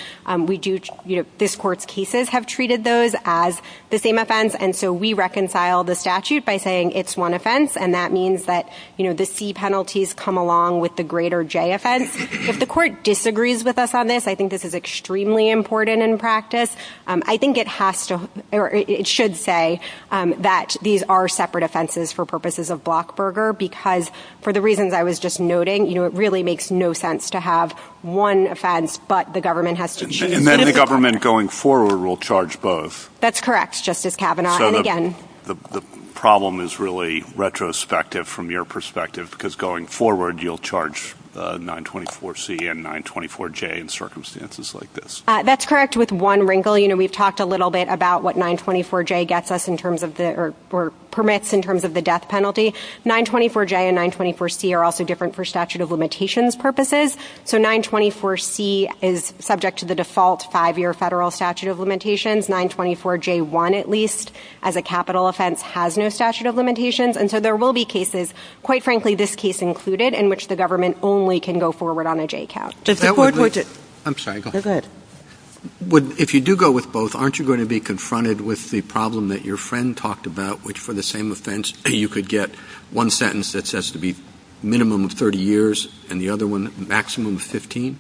we do, you know, this Court's cases have treated those as the same offense, and so we reconcile the statute by saying it's one offense, and that means that, you know, the C penalties come along with the greater J offense. If the Court disagrees with us on this, I think this is extremely important in practice. I think it has to, or it should say that these are separate offenses for purposes of Blockberger because, for the reasons I was just noting, you know, it really makes no sense to have one offense, but the government has to choose. And then the government, going forward, will charge both. That's correct, Justice Kavanaugh, and again... The problem is really retrospective from your perspective because, going forward, you'll charge 924C and 924J in circumstances like this. That's correct, with one wrinkle. You know, we've talked a little bit about what 924J gets us in terms of the... or permits in terms of the death penalty. 924J and 924C are also different for statute of limitations purposes. So 924C is subject to the default 5-year federal statute of limitations. 924J1, at least, as a capital offense, has no statute of limitations. And so there will be cases, quite frankly, this case included, in which the government only can go forward on a J count. If the court would... I'm sorry, go ahead. Go ahead. If you do go with both, aren't you going to be confronted with the problem that your friend talked about, which, for the same offense, you could get one sentence that says to be minimum of 30 years and the other one maximum of 15?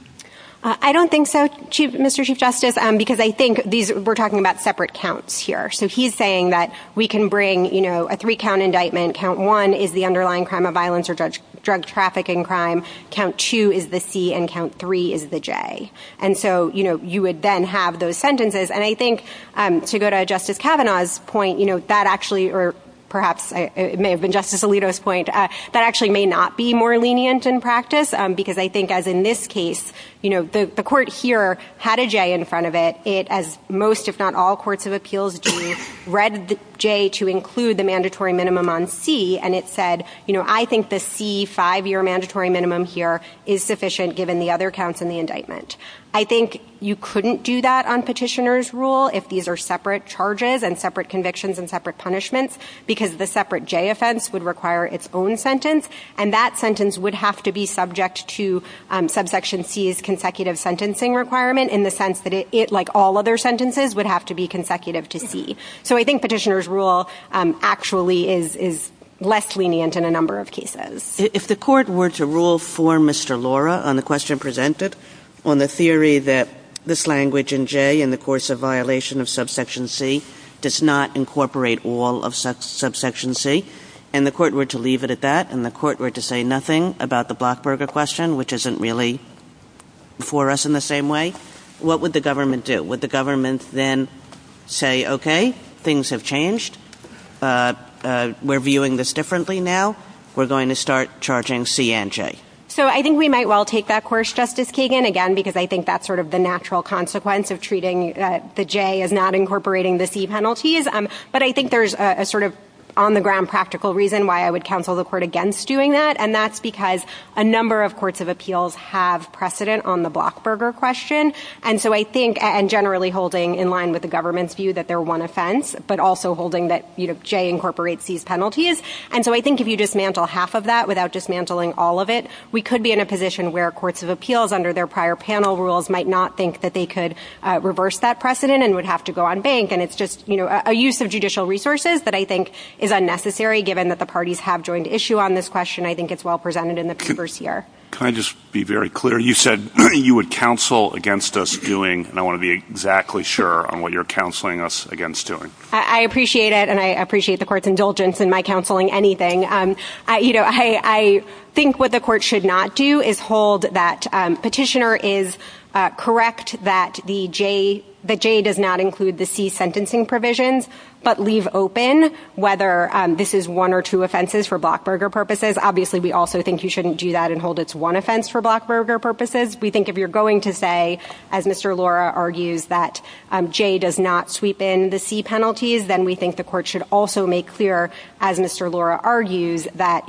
I don't think so, Mr. Chief Justice, because I think we're talking about separate counts here. So he's saying that we can bring a three-count indictment, count one is the underlying crime of violence or drug trafficking crime, count two is the C, and count three is the J. And so you would then have those sentences. And I think, to go to Justice Kavanaugh's point, that actually, or perhaps it may have been Justice Alito's point, that actually may not be more lenient in practice because I think, as in this case, you know, the court here had a J in front of it. It, as most, if not all, courts of appeals do, read the J to include the mandatory minimum on C, and it said, you know, I think the C five-year mandatory minimum here is sufficient given the other counts in the indictment. I think you couldn't do that on petitioner's rule if these are separate charges and separate convictions and separate punishments because the separate J offense would require its own sentence, and that sentence would have to be subject to subsection C's consecutive sentencing requirement in the sense that it, like all other sentences, would have to be consecutive to C. So I think petitioner's rule actually is less lenient in a number of cases. If the court were to rule for Mr. Laura on the question presented, on the theory that this language in J in the course of violation of subsection C does not incorporate all of subsection C, and the court were to leave it at that, and the court were to say nothing about the Blockberger question, which isn't really for us in the same way, what would the government do? Would the government then say, okay, things have changed, we're viewing this differently now, we're going to start charging C and J? So I think we might well take that course, Justice Kagan, again, because I think that's sort of the natural consequence of treating the J as not incorporating the C penalties, but I think there's a sort of on-the-ground practical reason why I would counsel the court against doing that, and that's because a number of courts of appeals have precedent on the Blockberger question, and so I think, and generally holding in line with the government's view that they're one offense, but also holding that J incorporates C's penalties, and so I think if you dismantle half of that without dismantling all of it, we could be in a position where courts of appeals, under their prior panel rules, might not think that they could reverse that precedent and would have to go on bank, and it's just a use of judicial resources that I think is unnecessary given that the parties have joined issue on this question. I think it's well presented in the papers here. Can I just be very clear? You said you would counsel against us doing, and I want to be exactly sure on what you're counseling us against doing. I appreciate it, and I appreciate the court's indulgence in my counseling anything. You know, I think what the court should not do is hold that Petitioner is correct that the J does not include the C sentencing provisions, but leave open whether this is one or two offenses for Blockburger purposes. Obviously, we also think you shouldn't do that and hold it's one offense for Blockburger purposes. We think if you're going to say, as Mr. Lora argues, that J does not sweep in the C penalties, then we think the court should also make clear, as Mr. Lora argues, that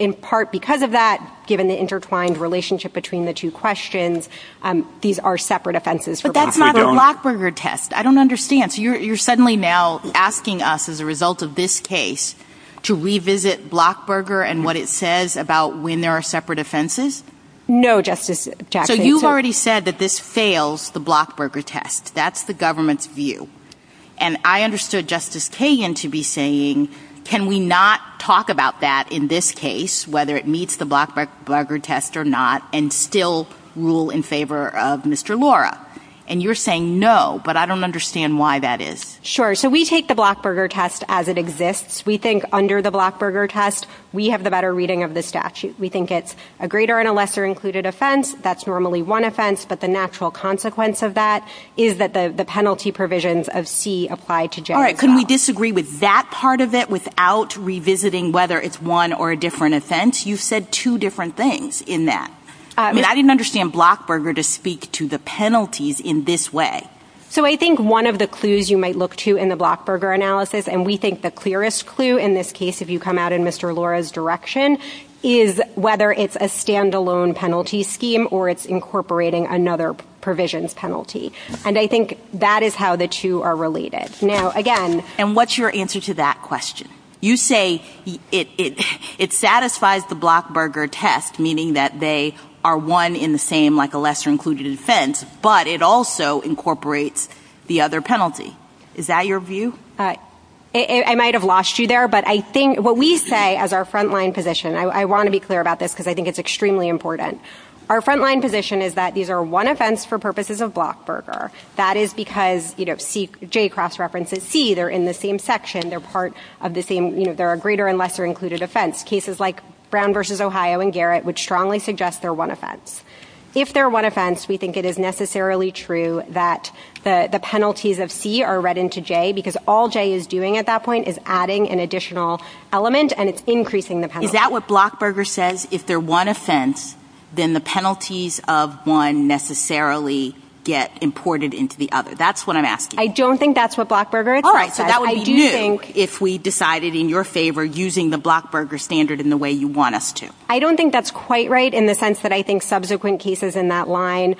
in part because of that, given the intertwined relationship between the two questions, these are separate offenses for Blockburger. But that's not the Blockburger test. I don't understand. So you're suddenly now asking us, as a result of this case, to revisit Blockburger and what it says about when there are separate offenses? No, Justice Jackson. So you've already said that this fails the Blockburger test. That's the government's view. And I understood Justice Kagan to be saying, can we not talk about that in this case, whether it meets the Blockburger test or not, and still rule in favor of Mr. Lora? And you're saying no, but I don't understand why that is. Sure. So we take the Blockburger test as it exists. We think under the Blockburger test, we have the better reading of the statute. We think it's a greater and a lesser included offense. That's normally one offense, but the natural consequence of that is that the penalty provisions of C apply to J as well. All right. Couldn't we disagree with that part of it without revisiting whether it's one or a different offense? You've said two different things in that. I mean, I didn't understand Blockburger to speak to the penalties in this way. So I think one of the clues you might look to in the Blockburger analysis, and we think the clearest clue in this case, if you come out in Mr. Lora's direction, is whether it's a stand-alone penalty scheme or it's incorporating another provisions penalty. And I think that is how the two are related. Now, again... And what's your answer to that question? You say it satisfies the Blockburger test, meaning that they are one in the same, like a lesser included offense, but it also incorporates the other penalty. Is that your view? I might have lost you there, but I think what we say as our front-line position, I want to be clear about this because I think it's extremely important. Our front-line position is that these are one offense for purposes of Blockburger. That is because, you know, J cross-references C. They're in the same section. They're part of the same... You know, they're a greater and lesser included offense. Cases like Brown v. Ohio and Garrett would strongly suggest they're one offense. If they're one offense, we think it is necessarily true that the penalties of C are read into J because all J is doing at that point is adding an additional element, and it's increasing the penalty. Is that what Blockburger says? If they're one offense, then the penalties of one necessarily get imported into the other. That's what I'm asking. I don't think that's what Blockburger itself says. All right, so that would be new if we decided in your favor in the way you want us to. I don't think that's quite right in the sense that I think subsequent cases in that line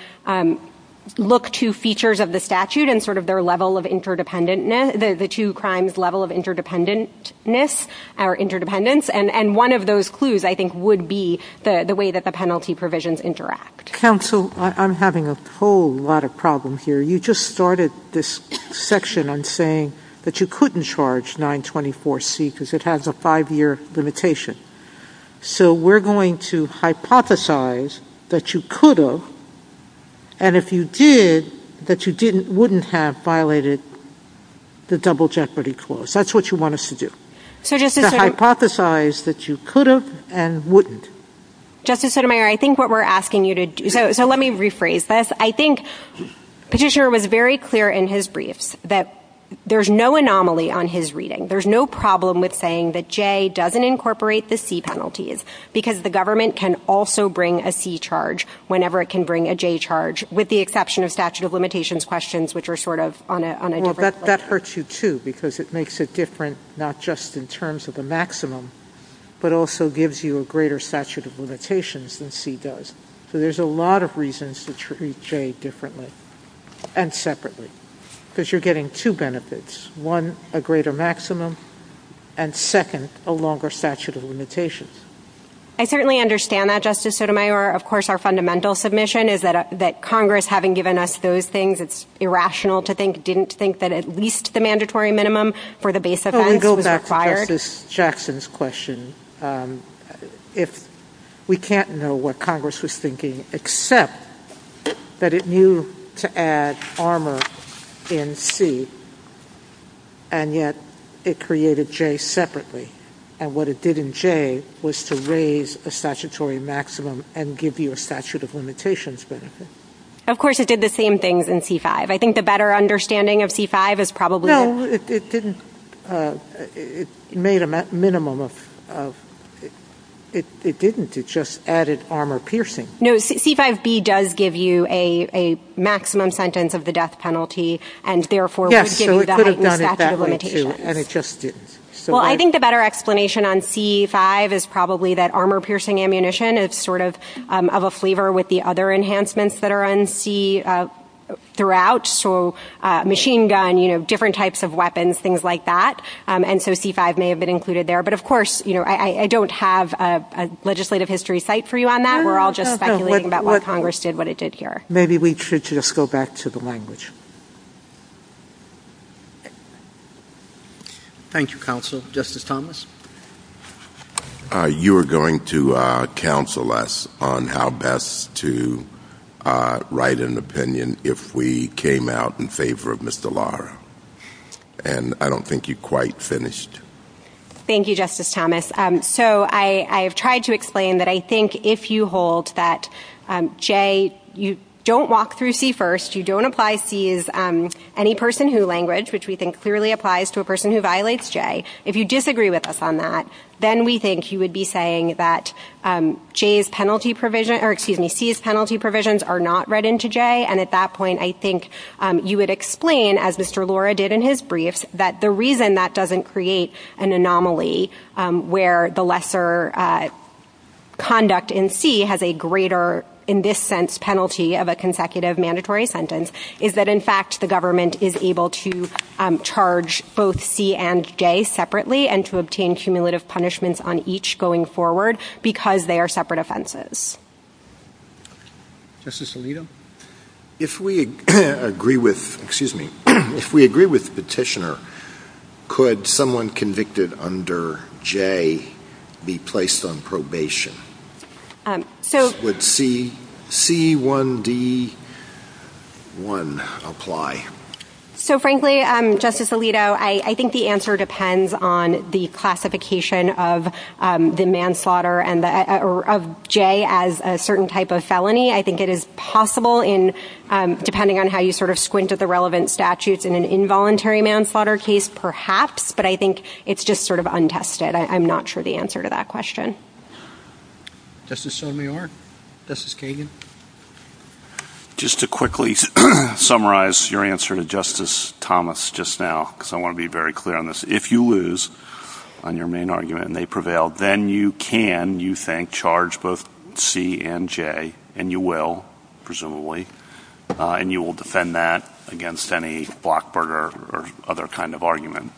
look to features of the statute and sort of their level of interdependentness, the two crimes' level of interdependentness or interdependence. And one of those clues, I think, would be the way that the penalty provisions interact. Counsel, I'm having a whole lot of problem here. You just started this section on saying that you couldn't charge 924C because it has a five-year limitation. So we're going to hypothesize that you could have, and if you did, that you wouldn't have violated the Double Jeopardy Clause. That's what you want us to do. To hypothesize that you could have and wouldn't. Justice Sotomayor, I think what we're asking you to do, so let me rephrase this. I think Petitioner was very clear in his briefs that there's no anomaly on his reading. There's no problem with saying that J doesn't incorporate the C penalties because the government can also bring a C charge whenever it can bring a J charge, with the exception of statute of limitations questions, which are sort of on a different level. That hurts you, too, because it makes it different not just in terms of the maximum, but also gives you a greater statute of limitations than C does. So there's a lot of reasons to treat J differently and separately because you're getting two benefits, one, a greater maximum, and second, a longer statute of limitations. I certainly understand that, Justice Sotomayor. Of course, our fundamental submission is that Congress, having given us those things, it's irrational to think, didn't think that at least the mandatory minimum for the base offense was required. Let me go back to Justice Jackson's question. We can't know what Congress was thinking except that it knew to add armor in C, and yet it created J separately. And what it did in J was to raise a statutory maximum and give you a statute of limitations benefit. Of course, it did the same things in C-5. I think the better understanding of C-5 is probably... No, it didn't. It made a minimum of... It didn't. It just added armor-piercing. No, C-5b does give you a maximum sentence of the death penalty and therefore would give you the heightened statute of limitations. Yes, so it could have done it that way, too, and it just didn't. Well, I think the better explanation on C-5 is probably that armor-piercing ammunition is sort of a flavor with the other enhancements that are in C throughout, so machine gun, different types of weapons, things like that. And so C-5 may have been included there. But, of course, I don't have a legislative history cite for you on that. We're all just speculating about what Congress did, what it did here. Maybe we should just go back to the language. Thank you, Counsel. Justice Thomas? You are going to counsel us on how best to write an opinion if we came out in favor of Mr. Lara. And I don't think you quite finished. Thank you, Justice Thomas. So I have tried to explain that I think if you hold that, Jay, you don't walk through C-1st, you don't apply C's Any Person Who language, which we think clearly applies to a person who violates Jay, if you disagree with us on that, then we think you would be saying that C's penalty provisions are not read into Jay, and at that point I think you would explain, as Mr. Lara did in his briefs, that the reason that doesn't create an anomaly where the lesser conduct in C has a greater, in this sense, penalty of a consecutive mandatory sentence is that in fact the government is able to charge both C and Jay separately and to obtain cumulative punishments on each going forward because they are separate offenses. Justice Alito? If we agree with Petitioner, could someone convicted under Jay be placed on probation? Would C-1d-1 apply? So frankly, Justice Alito, I think the answer depends on the classification of Jay as a certain type of felony. I think it is possible, depending on how you sort of squint at the relevant statutes, in an involuntary manslaughter case perhaps, but I think it's just sort of untested. I'm not sure the answer to that question. Justice Sotomayor? Justice Kagan? Just to quickly summarize your answer to Justice Thomas just now, because I want to be very clear on this. If you lose on your main argument and they prevail, then you can, you think, charge both C and Jay, and you will, presumably, and you will defend that against any blockburger or other kind of argument.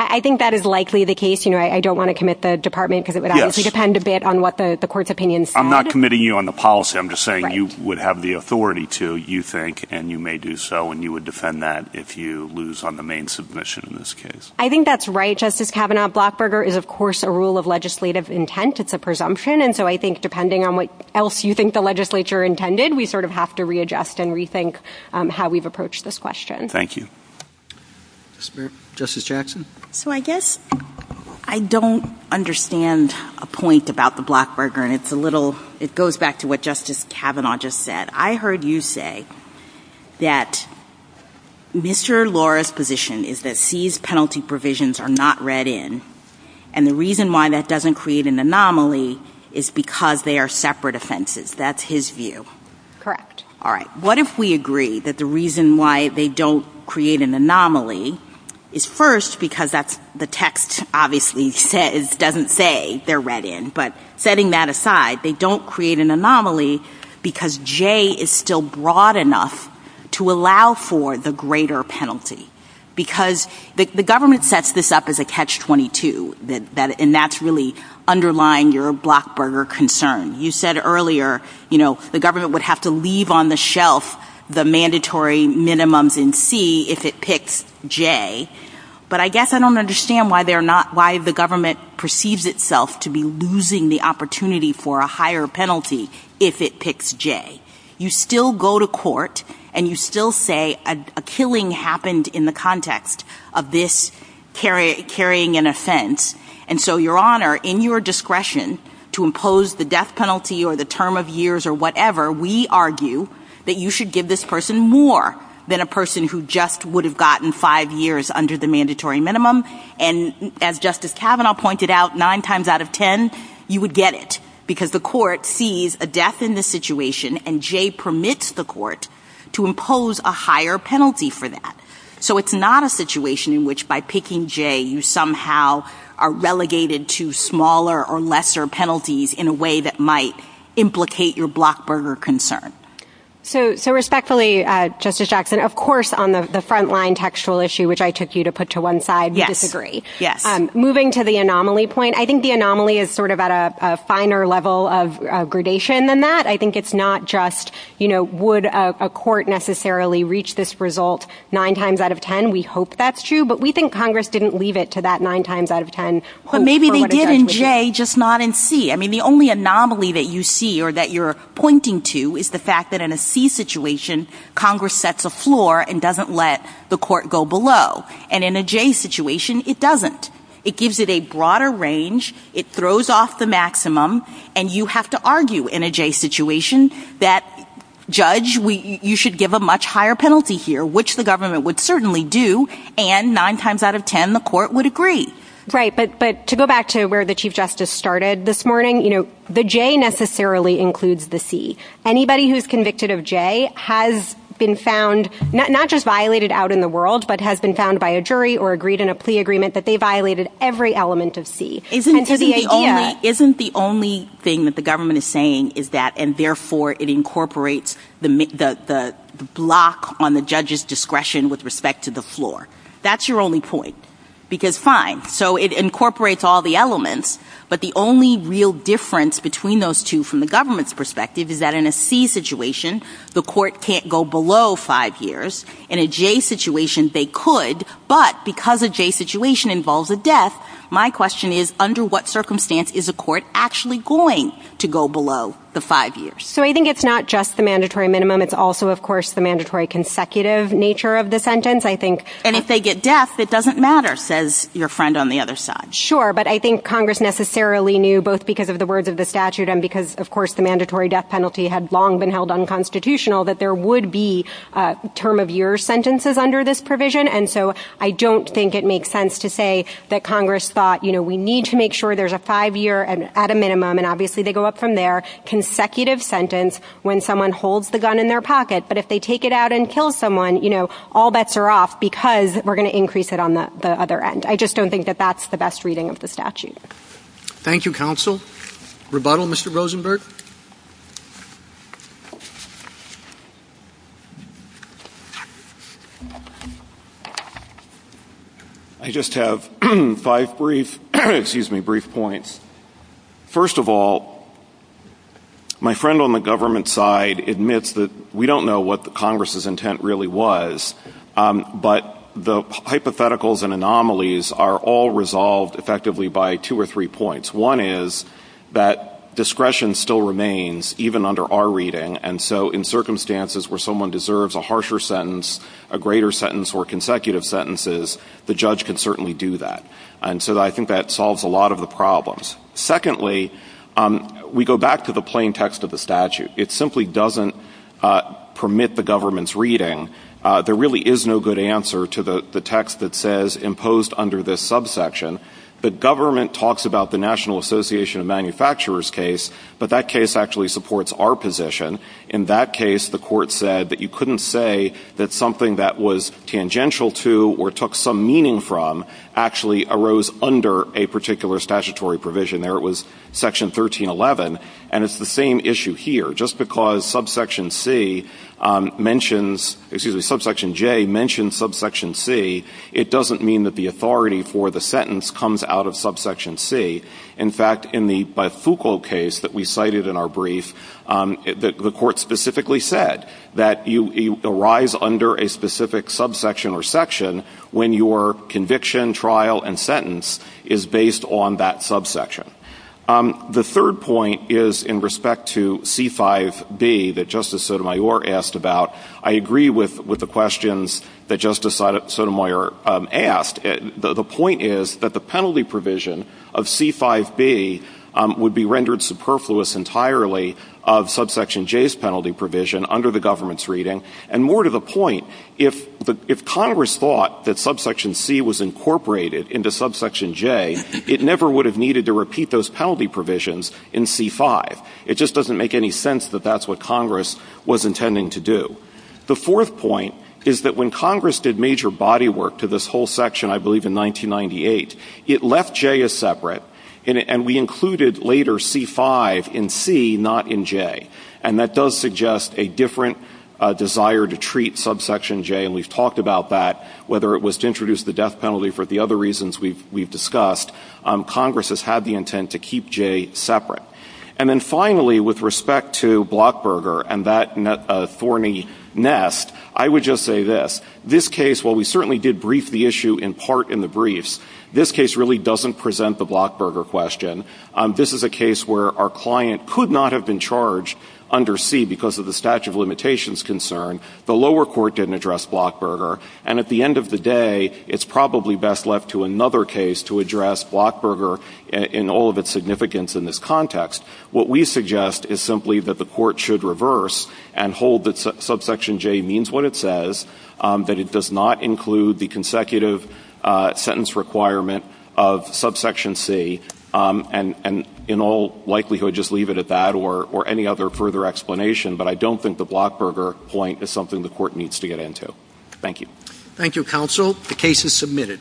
I think that is likely the case. I don't want to commit the department, because it would obviously depend a bit on what the court's opinion said. I'm not committing you on the policy. I'm just saying you would have the authority to, you think, and you may do so, and you would defend that if you lose on the main submission in this case. I think that's right, Justice Kavanaugh. Blockburger is, of course, a rule of legislative intent. It's a presumption, and so I think, depending on what else you think the legislature intended, we sort of have to readjust and rethink how we've approached this question. Thank you. Justice Jackson. So I guess I don't understand a point about the blockburger, and it's a little... It goes back to what Justice Kavanaugh just said. I heard you say that Mr. Laura's position is that C's penalty provisions are not read in, and the reason why that doesn't create an anomaly is because they are separate offenses. That's his view. Correct. All right. What if we agree that the reason why they don't create an anomaly is first because that's... The text obviously doesn't say they're read in, but setting that aside, they don't create an anomaly because J is still broad enough to allow for the greater penalty. Because the government sets this up as a catch-22, and that's really underlying your blockburger concern. You said earlier, you know, the government would have to leave on the shelf the mandatory minimums in C if it picks J, but I guess I don't understand why the government perceives itself to be losing the opportunity for a higher penalty if it picks J. You still go to court and you still say a killing happened in the context of this carrying an offense, and so, Your Honor, in your discretion to impose the death penalty or the term of years or whatever, we argue that you should give this person more than a person who just would have gotten five years under the mandatory minimum, and as Justice Kavanaugh pointed out, nine times out of ten, you would get it because the court sees a death in this situation and J permits the court to impose a higher penalty for that. So it's not a situation in which by picking J you somehow are relegated to smaller or lesser penalties in a way that might implicate your blockburger concern. So respectfully, Justice Jackson, of course on the frontline textual issue, which I took you to put to one side, we disagree. Yes. Moving to the anomaly point, I think the anomaly is sort of at a finer level of gradation than that. I think it's not just, you know, would a court necessarily reach this result nine times out of ten? We hope that's true, but we think Congress didn't leave it to that nine times out of ten. But maybe they did in J, just not in C. I mean, the only anomaly that you see or that you're pointing to is the fact that in a C situation, Congress sets a floor and doesn't let the court go below, and in a J situation, it doesn't. It gives it a broader range, it throws off the maximum, and you have to argue in a J situation that, Judge, you should give a much higher penalty here, which the government would certainly do, and nine times out of ten, the court would agree. Right, but to go back to where the Chief Justice started this morning, you know, the J necessarily includes the C. Anybody who's convicted of J has been found, not just violated out in the world, but has been found by a jury or agreed in a plea agreement that they violated every element of C. Isn't the only thing that the government is saying is that, and therefore it incorporates the block on the judge's discretion with respect to the floor. That's your only point, because fine, so it incorporates all the elements, but the only real difference between those two from the government's perspective is that in a C situation, the court can't go below five years. In a J situation, they could, but because a J situation involves a death, my question is, under what circumstance is a court actually going to go below the five years? So I think it's not just the mandatory minimum. It's also, of course, the mandatory consecutive nature of the sentence. And if they get death, it doesn't matter, says your friend on the other side. Sure, but I think Congress necessarily knew, both because of the words of the statute and because, of course, the mandatory death penalty had long been held unconstitutional, that there would be term-of-year sentences under this provision, and so I don't think it makes sense to say that Congress thought, you know, we need to make sure there's a five-year at a minimum, and obviously they go up from there, consecutive sentence when someone holds the gun in their pocket, but if they take it out and kill someone, you know, all bets are off because we're going to increase it on the other end. I just don't think that that's the best reading of the statute. Thank you, counsel. Rebuttal, Mr. Rosenberg? I just have five brief points. First of all, my friend on the government side admits that we don't know what Congress's intent really was, but the hypotheticals and anomalies are all resolved effectively by two or three points. One is that discretion still remains, even under our reading, and so in circumstances where someone deserves a harsher sentence, a greater sentence, or consecutive sentences, the judge can certainly do that. And so I think that solves a lot of the problems. Secondly, we go back to the plain text of the statute. It simply doesn't permit the government's reading. There really is no good answer to the text that says, imposed under this subsection, the government talks about the National Association of Manufacturers case, but that case actually supports our position. In that case, the court said that you couldn't say that something that was tangential to or took some meaning from actually arose under a particular statutory provision there. It was Section 1311, and it's the same issue here. Just because Subsection C mentions – excuse me, Subsection J mentions Subsection C, it doesn't mean that the authority for the sentence comes out of Subsection C. In fact, in the Bifuco case that we cited in our brief, the court specifically said that you arise under a specific subsection or section when your conviction, trial, and sentence is based on that subsection. The third point is in respect to C-5B that Justice Sotomayor asked about. I agree with the questions that Justice Sotomayor asked. The point is that the penalty provision of C-5B would be rendered superfluous entirely of Subsection J's penalty provision under the government's reading. And more to the point, if Congress thought that Subsection C was incorporated into Subsection J, it never would have needed to repeat those penalty provisions in C-5. It just doesn't make any sense that that's what Congress was intending to do. The fourth point is that when Congress did major body work to this whole section, I believe in 1998, it left J as separate, and we included later C-5 in C, not in J. And that does suggest a different desire to treat Subsection J, and we've talked about that. Whether it was to introduce the death penalty for the other reasons we've discussed, Congress has had the intent to keep J separate. And then finally, with respect to Blockburger and that thorny nest, I would just say this. This case, while we certainly did brief the issue in part in the briefs, this case really doesn't present the Blockburger question. This is a case where our client could not have been charged under C because of the statute of limitations concern. The lower court didn't address Blockburger. And at the end of the day, it's probably best left to another case to address Blockburger in all of its significance in this context. What we suggest is simply that the court should reverse and hold that Subsection J means what it says, that it does not include the consecutive sentence requirement of Subsection C, and in all likelihood just leave it at that or any other further explanation. But I don't think the Blockburger point is something the court needs to get into. Thank you. Thank you, counsel. The case is submitted.